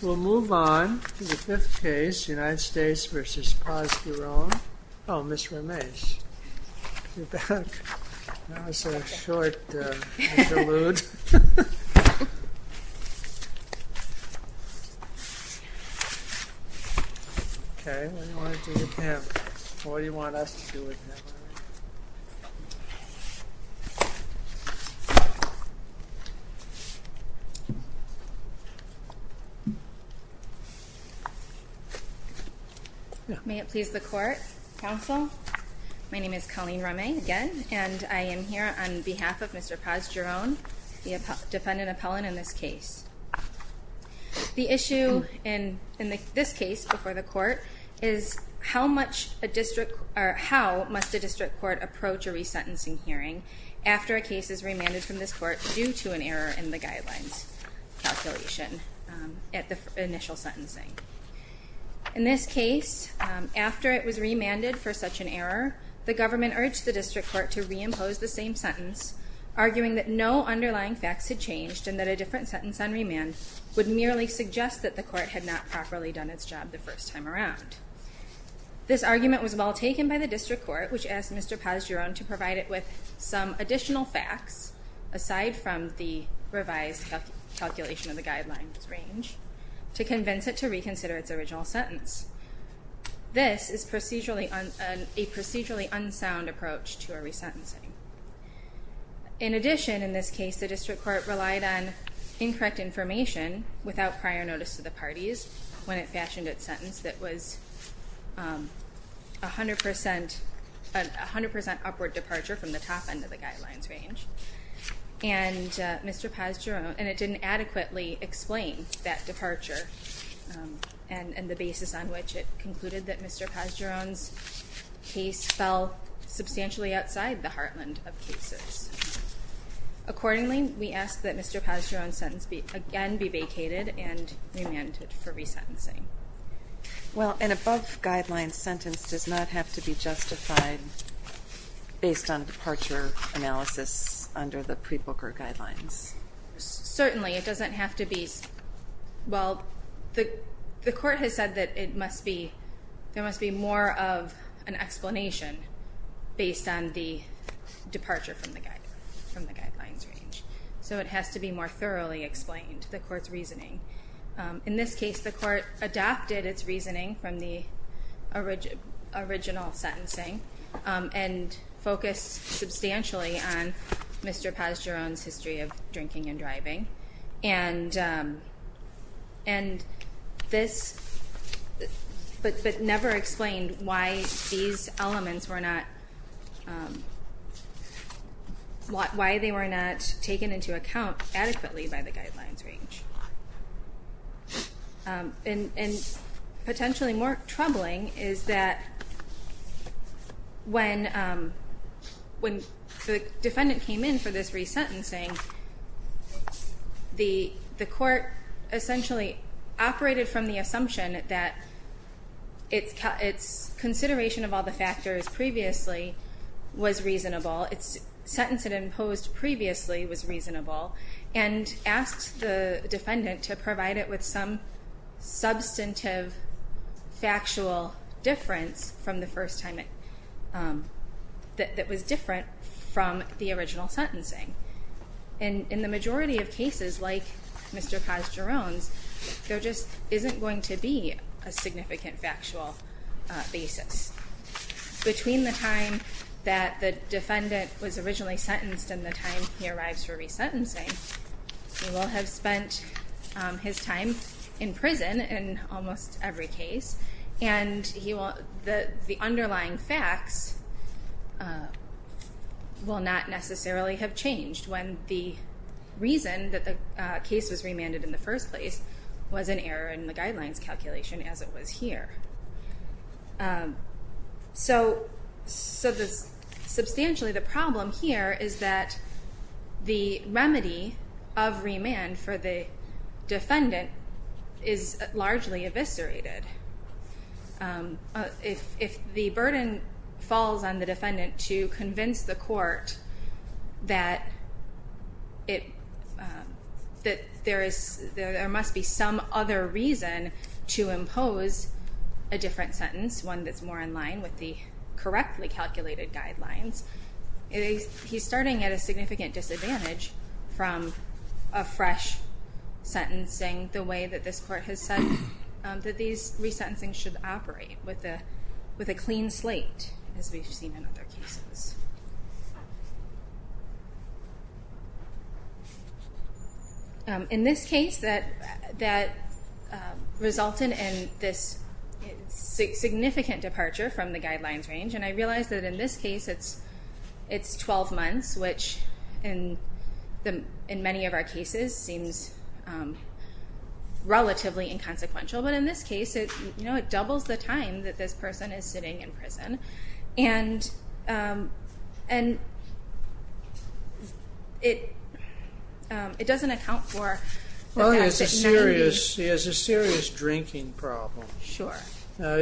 We'll move on to the fifth case, United States v. Paz-Giron. Oh, Ms. Ramesh, you're back. That was a short interlude. Okay, what do you want to do with him? What do you want us to do with him? May it please the court, counsel. My name is Colleen Ramesh again, and I am here on behalf of Mr. Paz-Giron, the defendant appellant in this case. The issue in this case before the court is how much a district, or how must a district court approach a resentencing hearing after a case is remanded from this court due to an error in the guidelines calculation at the first hearing? Initial sentencing. In this case, after it was remanded for such an error, the government urged the district court to reimpose the same sentence, arguing that no underlying facts had changed and that a different sentence on remand would merely suggest that the court had not properly done its job the first time around. This argument was well taken by the district court, which asked Mr. Paz-Giron to provide it with some additional facts, aside from the revised calculation of the guidelines range, to convince it to reconsider its original sentence. This is a procedurally unsound approach to a resentencing. In addition, in this case, the district court relied on incorrect information without prior notice to the parties when it fashioned its sentence that was a 100% upward departure from the top end of the guidelines range. And it didn't adequately explain that departure and the basis on which it concluded that Mr. Paz-Giron's case fell substantially outside the heartland of cases. Accordingly, we ask that Mr. Paz-Giron's sentence again be vacated and remanded for resentencing. Well, an above-guidelines sentence does not have to be justified based on departure analysis under the pre-Booker guidelines? Certainly, it doesn't have to be. Well, the court has said that there must be more of an explanation based on the departure from the guidelines range. So it has to be more thoroughly explained, the court's reasoning. In this case, the court adapted its reasoning from the original sentencing and focused substantially on Mr. Paz-Giron's history of drinking and driving. And this, but never explained why these elements were not, why they were not taken into account adequately by the guidelines range. And potentially more troubling is that when the defendant came in for this resentencing, the court essentially operated from the assumption that its consideration of all the factors previously was reasonable, its sentence it imposed previously was reasonable, and asked the defendant to provide it with some substantive factual difference that was different from the original sentencing. And in the majority of cases like Mr. Paz-Giron's, there just isn't going to be a significant factual basis. Between the time that the defendant was originally sentenced and the time he arrives for resentencing, he will have spent his time in prison in almost every case, and the underlying facts will not necessarily have changed when the reason that the case was remanded in the first place was an error in the guidelines calculation as it was here. So substantially the problem here is that the remedy of remand for the defendant is largely eviscerated. If the burden falls on the defendant to convince the court that there must be some other reason to impose a different sentence, one that's more in line with the correctly calculated guidelines, he's starting at a significant disadvantage from a fresh sentencing, the way that this court has said that these resentencings should operate with a clean slate, as we've seen in other cases. In this case, that resulted in this significant departure from the guidelines range, and I realize that in this case, it's 12 months, which in many of our cases seems relatively inconsequential, but in this case, it doubles the time that this person is sitting in prison, and it doesn't account for the fact that... Well, he has a serious drinking problem. Why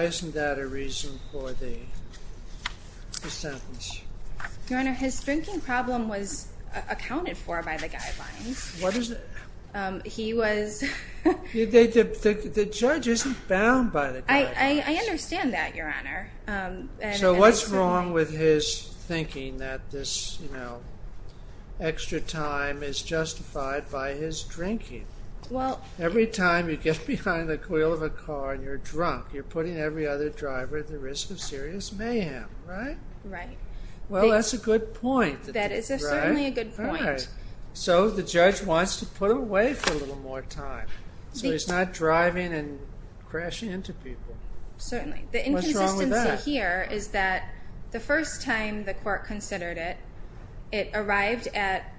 isn't that a reason for the sentence? Your Honor, his drinking problem was accounted for by the guidelines. What is it? He was... The judge isn't bound by the guidelines. I understand that, Your Honor. So what's wrong with his thinking that this extra time is justified by his drinking? Every time you get behind the wheel of a car and you're drunk, you're putting every other driver at the risk of serious mayhem, right? Right. Well, that's a good point. That is certainly a good point. So the judge wants to put him away for a little more time, so he's not driving and crashing into people. Certainly. What's wrong with that? The inconsistency here is that the first time the court considered it, it arrived at...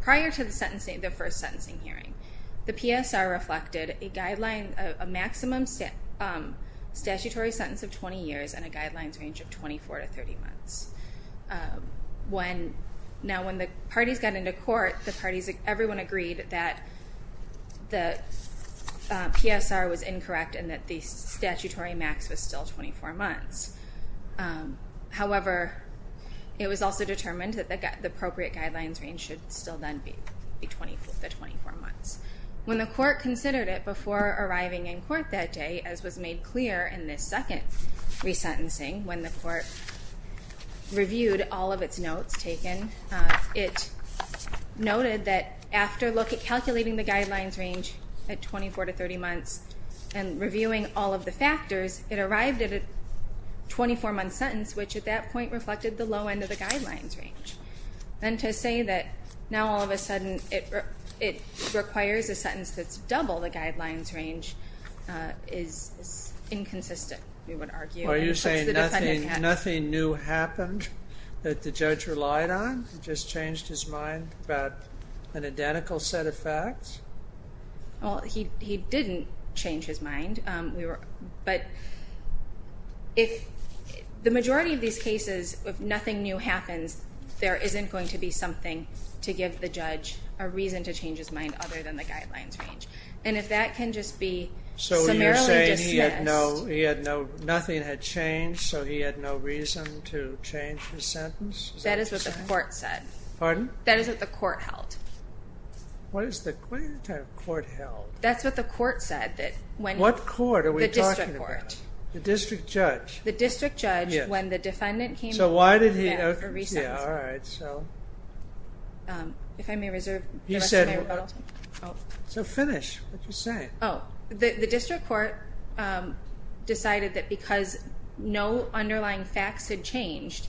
Prior to the first sentencing hearing, the PSR reflected a maximum statutory sentence of 20 years and a guidelines range of 24 to 30 months. Now, when the parties got into court, everyone agreed that the PSR was incorrect and that the statutory max was still 24 months. However, it was also determined that the appropriate guidelines range should still then be 24 months. When the court considered it before arriving in court that day, as was made clear in this second resentencing, when the court reviewed all of its notes taken, it noted that after calculating the guidelines range at 24 to 30 months and reviewing all of the factors, it arrived at a 24-month sentence, which at that point reflected the low end of the guidelines range. Then to say that now all of a sudden it requires a sentence that's double the guidelines range is inconsistent, we would argue. Are you saying nothing new happened that the judge relied on? He just changed his mind about an identical set of facts? Well, he didn't change his mind. But the majority of these cases, if nothing new happens, there isn't going to be something to give the judge a reason to change his mind other than the guidelines range. And if that can just be summarily dismissed... So you're saying nothing had changed, so he had no reason to change his sentence? That is what the court said. Pardon? That is what the court held. What is the court held? That's what the court said. What court are we talking about? The district court. The district judge. The district judge, when the defendant came... So why did he... Yeah, all right, so... If I may reserve... He said... Oh. So finish. What did you say? Oh, the district court decided that because no underlying facts had changed,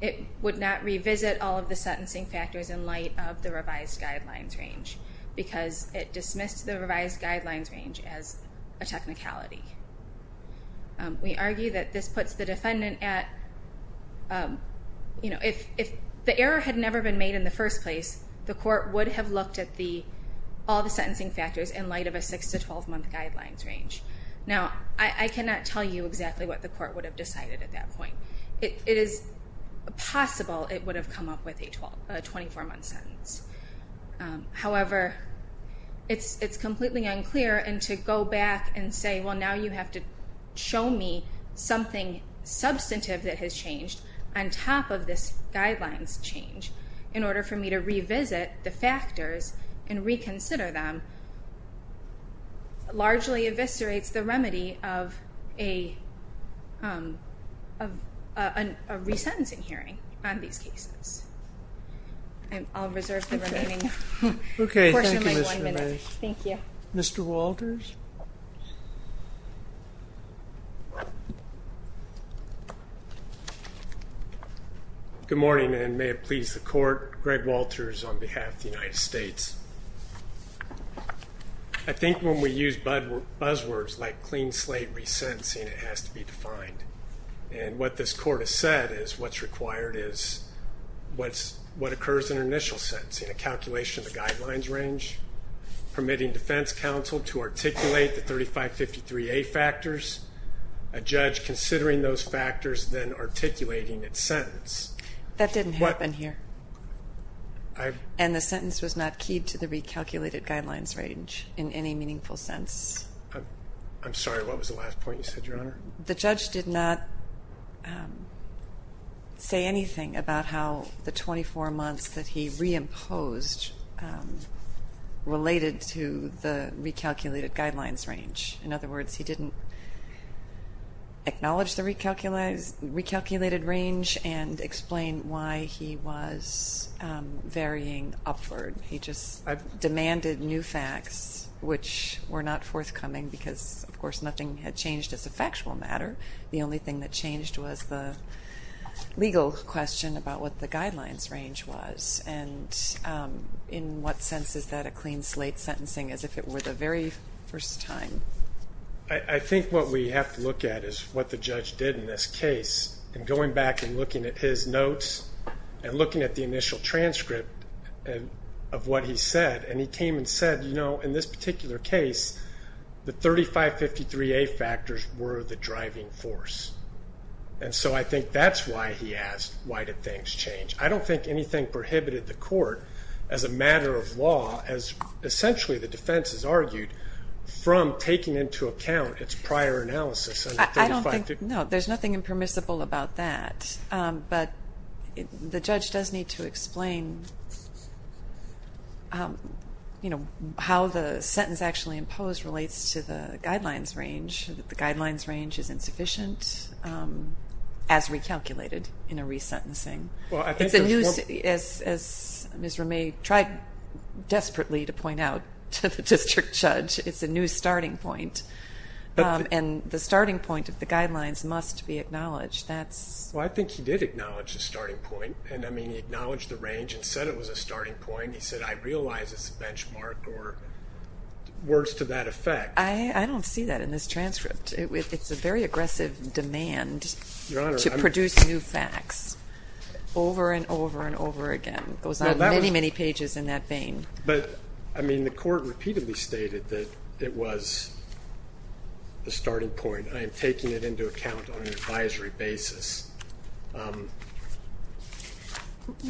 it would not revisit all of the sentencing factors in light of the revised guidelines range because it dismissed the revised guidelines range as a technicality. We argue that this puts the defendant at... You know, if the error had never been made in the first place, the court would have looked at all the sentencing factors in light of a 6- to 12-month guidelines range. Now, I cannot tell you exactly what the court would have decided at that point. It is possible it would have come up with a 24-month sentence. However, it's completely unclear, and to go back and say, well, now you have to show me something substantive that has changed on top of this guidelines change in order for me to revisit the factors and reconsider them largely eviscerates the remedy of a... of a resentencing hearing on these cases. I'll reserve the remaining portion of my one minute. Okay, thank you, Ms. Verma. Thank you. Mr. Walters? Good morning, and may it please the court. Greg Walters on behalf of the United States. I think when we use buzzwords like clean slate resentencing, it has to be defined. And what this court has said is what's required is what occurs in an initial sentencing, a calculation of the guidelines range, permitting defense counsel to articulate the 3553A factors, a judge considering those factors, then articulating its sentence. That didn't happen here. And the sentence was not keyed to the recalculated guidelines range in any meaningful sense. I'm sorry, what was the last point you said, Your Honor? The judge did not say anything about how the 24 months that he reimposed related to the recalculated guidelines range. In other words, he didn't acknowledge the recalculated range and explain why he was varying upward. He just demanded new facts, which were not forthcoming, because, of course, nothing had changed as a factual matter. The only thing that changed was the legal question about what the guidelines range was. And in what sense is that a clean slate sentencing, as if it were the very first time? I think what we have to look at is what the judge did in this case. And going back and looking at his notes and looking at the initial transcript of what he said, and he came and said, you know, in this particular case, the 3553A factors were the driving force. And so I think that's why he asked, why did things change? I don't think anything prohibited the court, as a matter of law, as essentially the defense has argued, from taking into account its prior analysis. I don't think, no, there's nothing impermissible about that. But the judge does need to explain how the sentence actually imposed relates to the guidelines range, that the guidelines range is insufficient, as recalculated in a resentencing. As Ms. Ramey tried desperately to point out to the district judge, it's a new starting point. And the starting point of the guidelines must be acknowledged. Well, I think he did acknowledge the starting point. And I mean, he acknowledged the range and said it was a starting point. He said, I realize it's a benchmark or worse to that effect. I don't see that in this transcript. It's a very aggressive demand to produce new facts over and over and over again. It goes on many, many pages in that vein. But, I mean, the court repeatedly stated that it was a starting point. I am taking it into account on an advisory basis.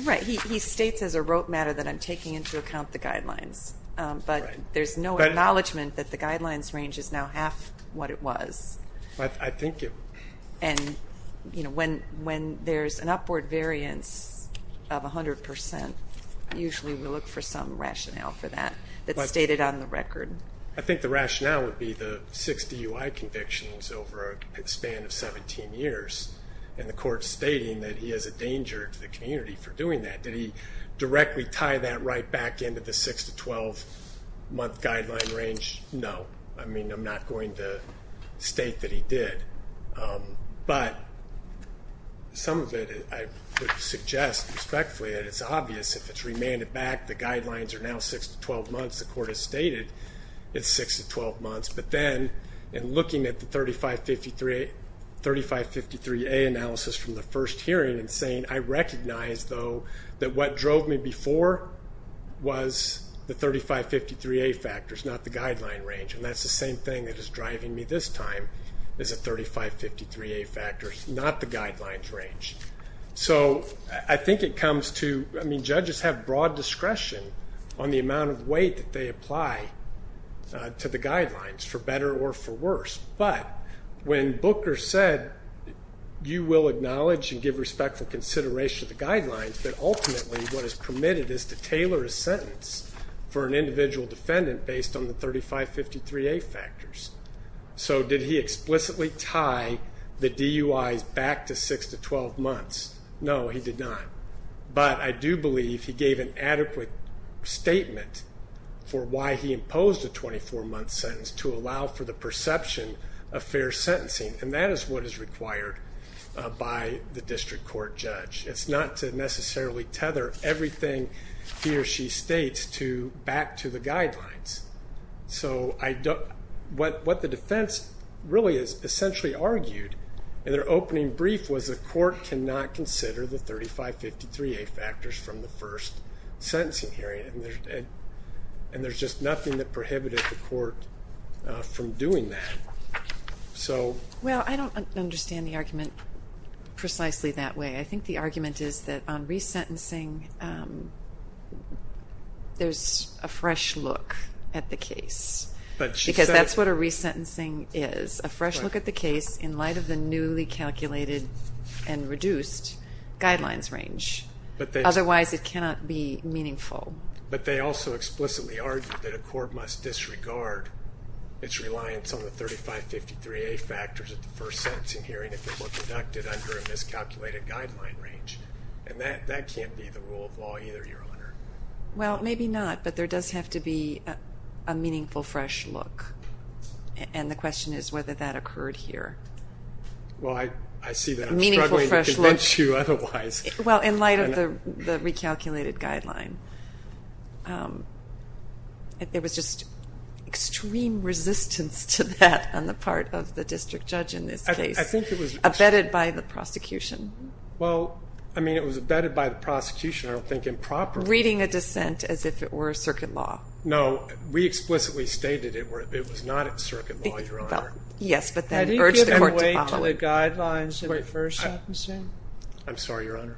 Right. He states as a rote matter that I'm taking into account the guidelines. But there's no acknowledgment that the guidelines range is now half what it was. I think it... And when there's an upward variance of 100%, usually we look for some rationale for that that's stated on the record. I think the rationale would be the 60 UI convictions over a span of 17 years. And the court's stating that he is a danger to the community for doing that. Did he directly tie that right back into the 6-12 month guideline range? No. I mean, I'm not going to state that he did. But some of it I would suggest respectfully that it's obvious if it's remanded back, the guidelines are now 6-12 months. The court has stated it's 6-12 months. But then in looking at the 3553A analysis from the first hearing and saying, I recognize, though, that what drove me before was the 3553A factors, not the guideline range. And that's the same thing that is driving me this time is the 3553A factors, not the guidelines range. So I think it comes to... I mean, judges have broad discretion on the amount of weight that they apply to the guidelines. For better or for worse. But when Booker said, you will acknowledge and give respectful consideration to the guidelines, but ultimately what is permitted is to tailor a sentence for an individual defendant based on the 3553A factors. So did he explicitly tie the DUIs back to 6-12 months? No, he did not. But I do believe he gave an adequate statement for why he imposed a 24-month sentence to allow for the perception of fair sentencing. And that is what is required by the district court judge. It's not to necessarily tether everything he or she states back to the guidelines. So what the defense really has essentially argued in their opening brief was the court cannot consider the 3553A factors from the first sentencing hearing. And there's just nothing that prohibited the court from doing that. Well, I don't understand the argument precisely that way. I think the argument is that on resentencing, there's a fresh look at the case. Because that's what a resentencing is. A fresh look at the case in light of the newly calculated and reduced guidelines range. Otherwise, it cannot be meaningful. But they also explicitly argued that a court must disregard its reliance on the 3553A factors at the first sentencing hearing if it were conducted under a miscalculated guideline range. And that can't be the rule of law either, Your Honor. Well, maybe not. But there does have to be a meaningful fresh look. And the question is whether that occurred here. Well, I see that I'm struggling to convince you otherwise. Well, in light of the recalculated guideline, it was just extreme resistance to that on the part of the district judge in this case, abetted by the prosecution. Well, I mean, it was abetted by the prosecution. I don't think improperly. Reading a dissent as if it were a circuit law. No, we explicitly stated it was not a circuit law, Your Honor. Yes, but then urged the court to follow it. I'm sorry, Your Honor.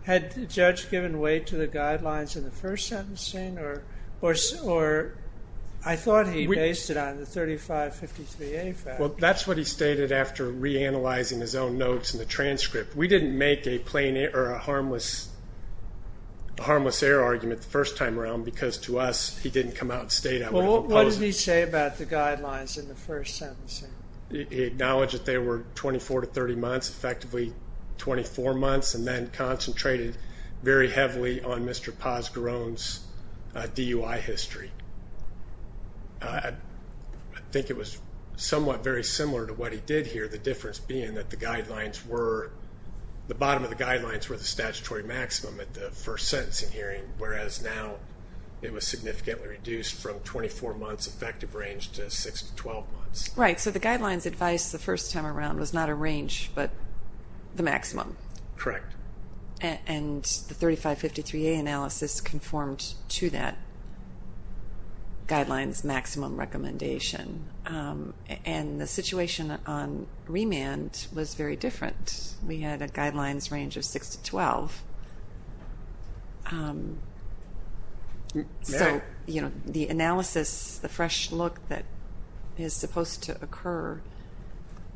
Well, that's what he stated after reanalyzing his own notes in the transcript. We didn't make a harmless error argument the first time around because to us he didn't come out and state it. Well, what did he say about the guidelines in the first sentencing? He acknowledged that they were 24 to 30 months, effectively 24 months, and then concentrated very heavily on Mr. Posgarone's DUI history. I think it was somewhat very similar to what he did here, the difference being that the guidelines were, the bottom of the guidelines were the statutory maximum at the first sentencing hearing, whereas now it was significantly reduced from 24 months effective range to 6 to 12 months. Right, so the guidelines advice the first time around was not a range but the maximum. Correct. And the 3553A analysis conformed to that guidelines maximum recommendation. And the situation on remand was very different. We had a guidelines range of 6 to 12. So the analysis, the fresh look that is supposed to occur,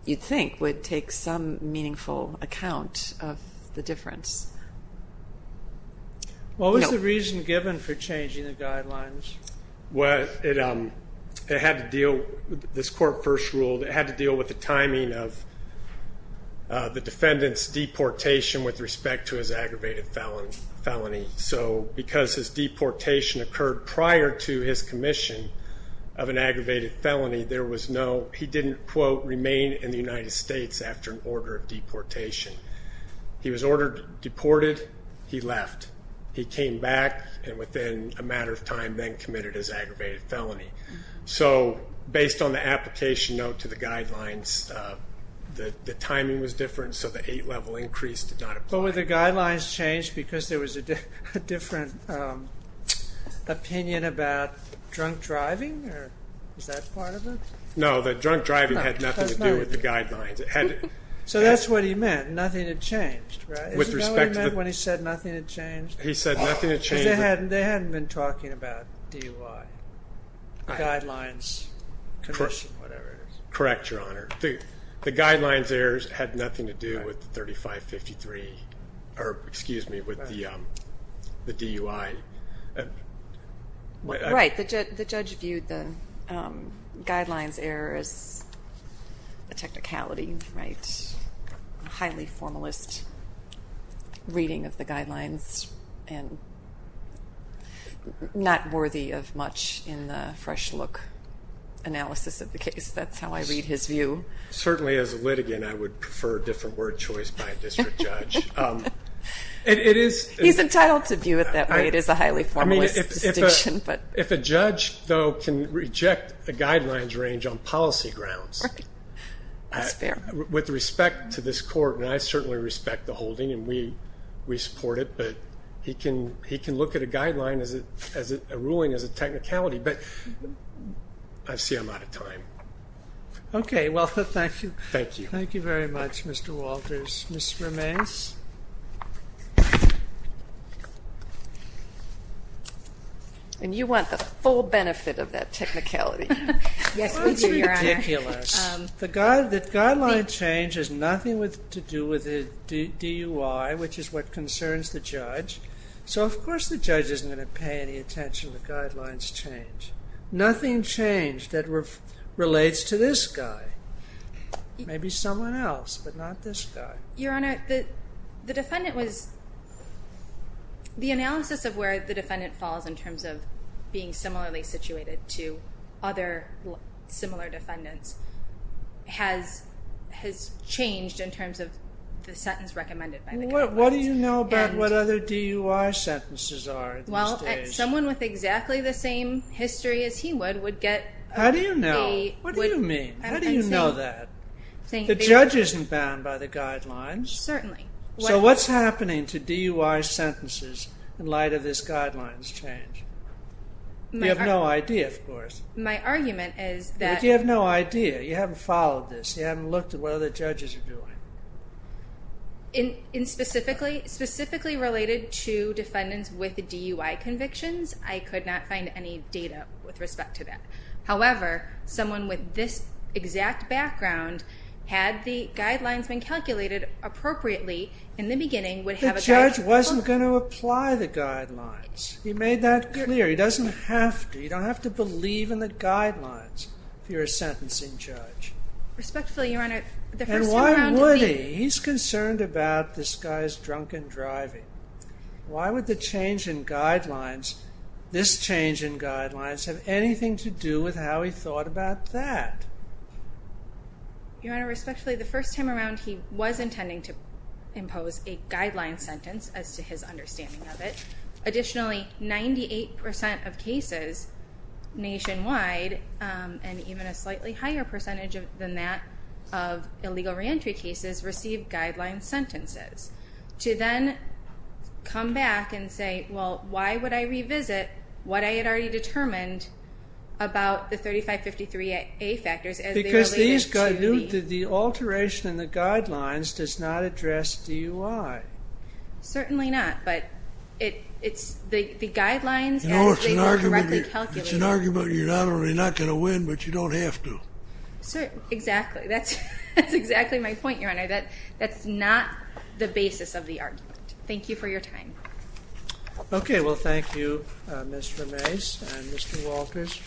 you'd think would take some meaningful account of the difference. No. What was the reason given for changing the guidelines? Well, it had to deal, this court first ruled, it had to deal with the timing of the defendant's deportation with respect to his aggravated felony. So because his deportation occurred prior to his commission of an aggravated felony, there was no, he didn't, quote, remain in the United States after an order of deportation. He was ordered deported, he left. He came back and within a matter of time then committed his aggravated felony. So based on the application note to the guidelines, the timing was different so the 8-level increase did not apply. But were the guidelines changed because there was a different opinion about drunk driving? Or was that part of it? No, the drunk driving had nothing to do with the guidelines. So that's what he meant, nothing had changed, right? Isn't that what he meant when he said nothing had changed? He said nothing had changed. Because they hadn't been talking about DUI, guidelines, commission, whatever it is. Correct, Your Honor. The guidelines errors had nothing to do with the 3553, or excuse me, with the DUI. Right, the judge viewed the guidelines error as a technicality, right? A highly formalist reading of the guidelines and not worthy of much in the fresh look analysis of the case. That's how I read his view. Certainly as a litigant I would prefer a different word choice by a district judge. He's entitled to view it that way. It is a highly formalist distinction. If a judge, though, can reject a guideline's range on policy grounds with respect to this court, and I certainly respect the holding and we support it, but he can look at a guideline as a ruling as a technicality. I see I'm out of time. Okay, well, thank you. Thank you. Thank you very much, Mr. Walters. Ms. Ramez? And you want the full benefit of that technicality. Yes, we do, Your Honor. That's ridiculous. The guideline change has nothing to do with the DUI, which is what concerns the judge. So, of course, the judge isn't going to pay any attention to guidelines change. Nothing changed that relates to this guy. Maybe someone else, but not this guy. Your Honor, the defendant was, the analysis of where the defendant falls in terms of being similarly situated to other similar defendants What do you know about what other DUI sentences are these days? Well, someone with exactly the same history as he would would get a How do you know? What do you mean? How do you know that? The judge isn't bound by the guidelines. Certainly. So what's happening to DUI sentences in light of this guideline's change? You have no idea, of course. My argument is that But you have no idea. You haven't followed this. You haven't looked at what other judges are doing. Specifically related to defendants with DUI convictions, I could not find any data with respect to that. However, someone with this exact background, had the guidelines been calculated appropriately in the beginning, The judge wasn't going to apply the guidelines. He made that clear. He doesn't have to. You don't have to believe in the guidelines if you're a sentencing judge. Respectfully, Your Honor, And why would he? He's concerned about this guy's drunken driving. Why would the change in guidelines, this change in guidelines, have anything to do with how he thought about that? Your Honor, respectfully, the first time around, he was intending to impose a guideline sentence, as to his understanding of it. Additionally, 98% of cases nationwide, and even a slightly higher percentage than that of illegal reentry cases, received guideline sentences. To then come back and say, well, why would I revisit what I had already determined about the 3553A factors as they related to the... Because the alteration in the guidelines does not address DUI. Certainly not. But the guidelines, as they were correctly calculated... It's an argument you're not only not going to win, but you don't have to. Certainly. Exactly. That's exactly my point, Your Honor. That's not the basis of the argument. Thank you for your time. Okay. Well, thank you, Mr. Mace and Mr. Walters.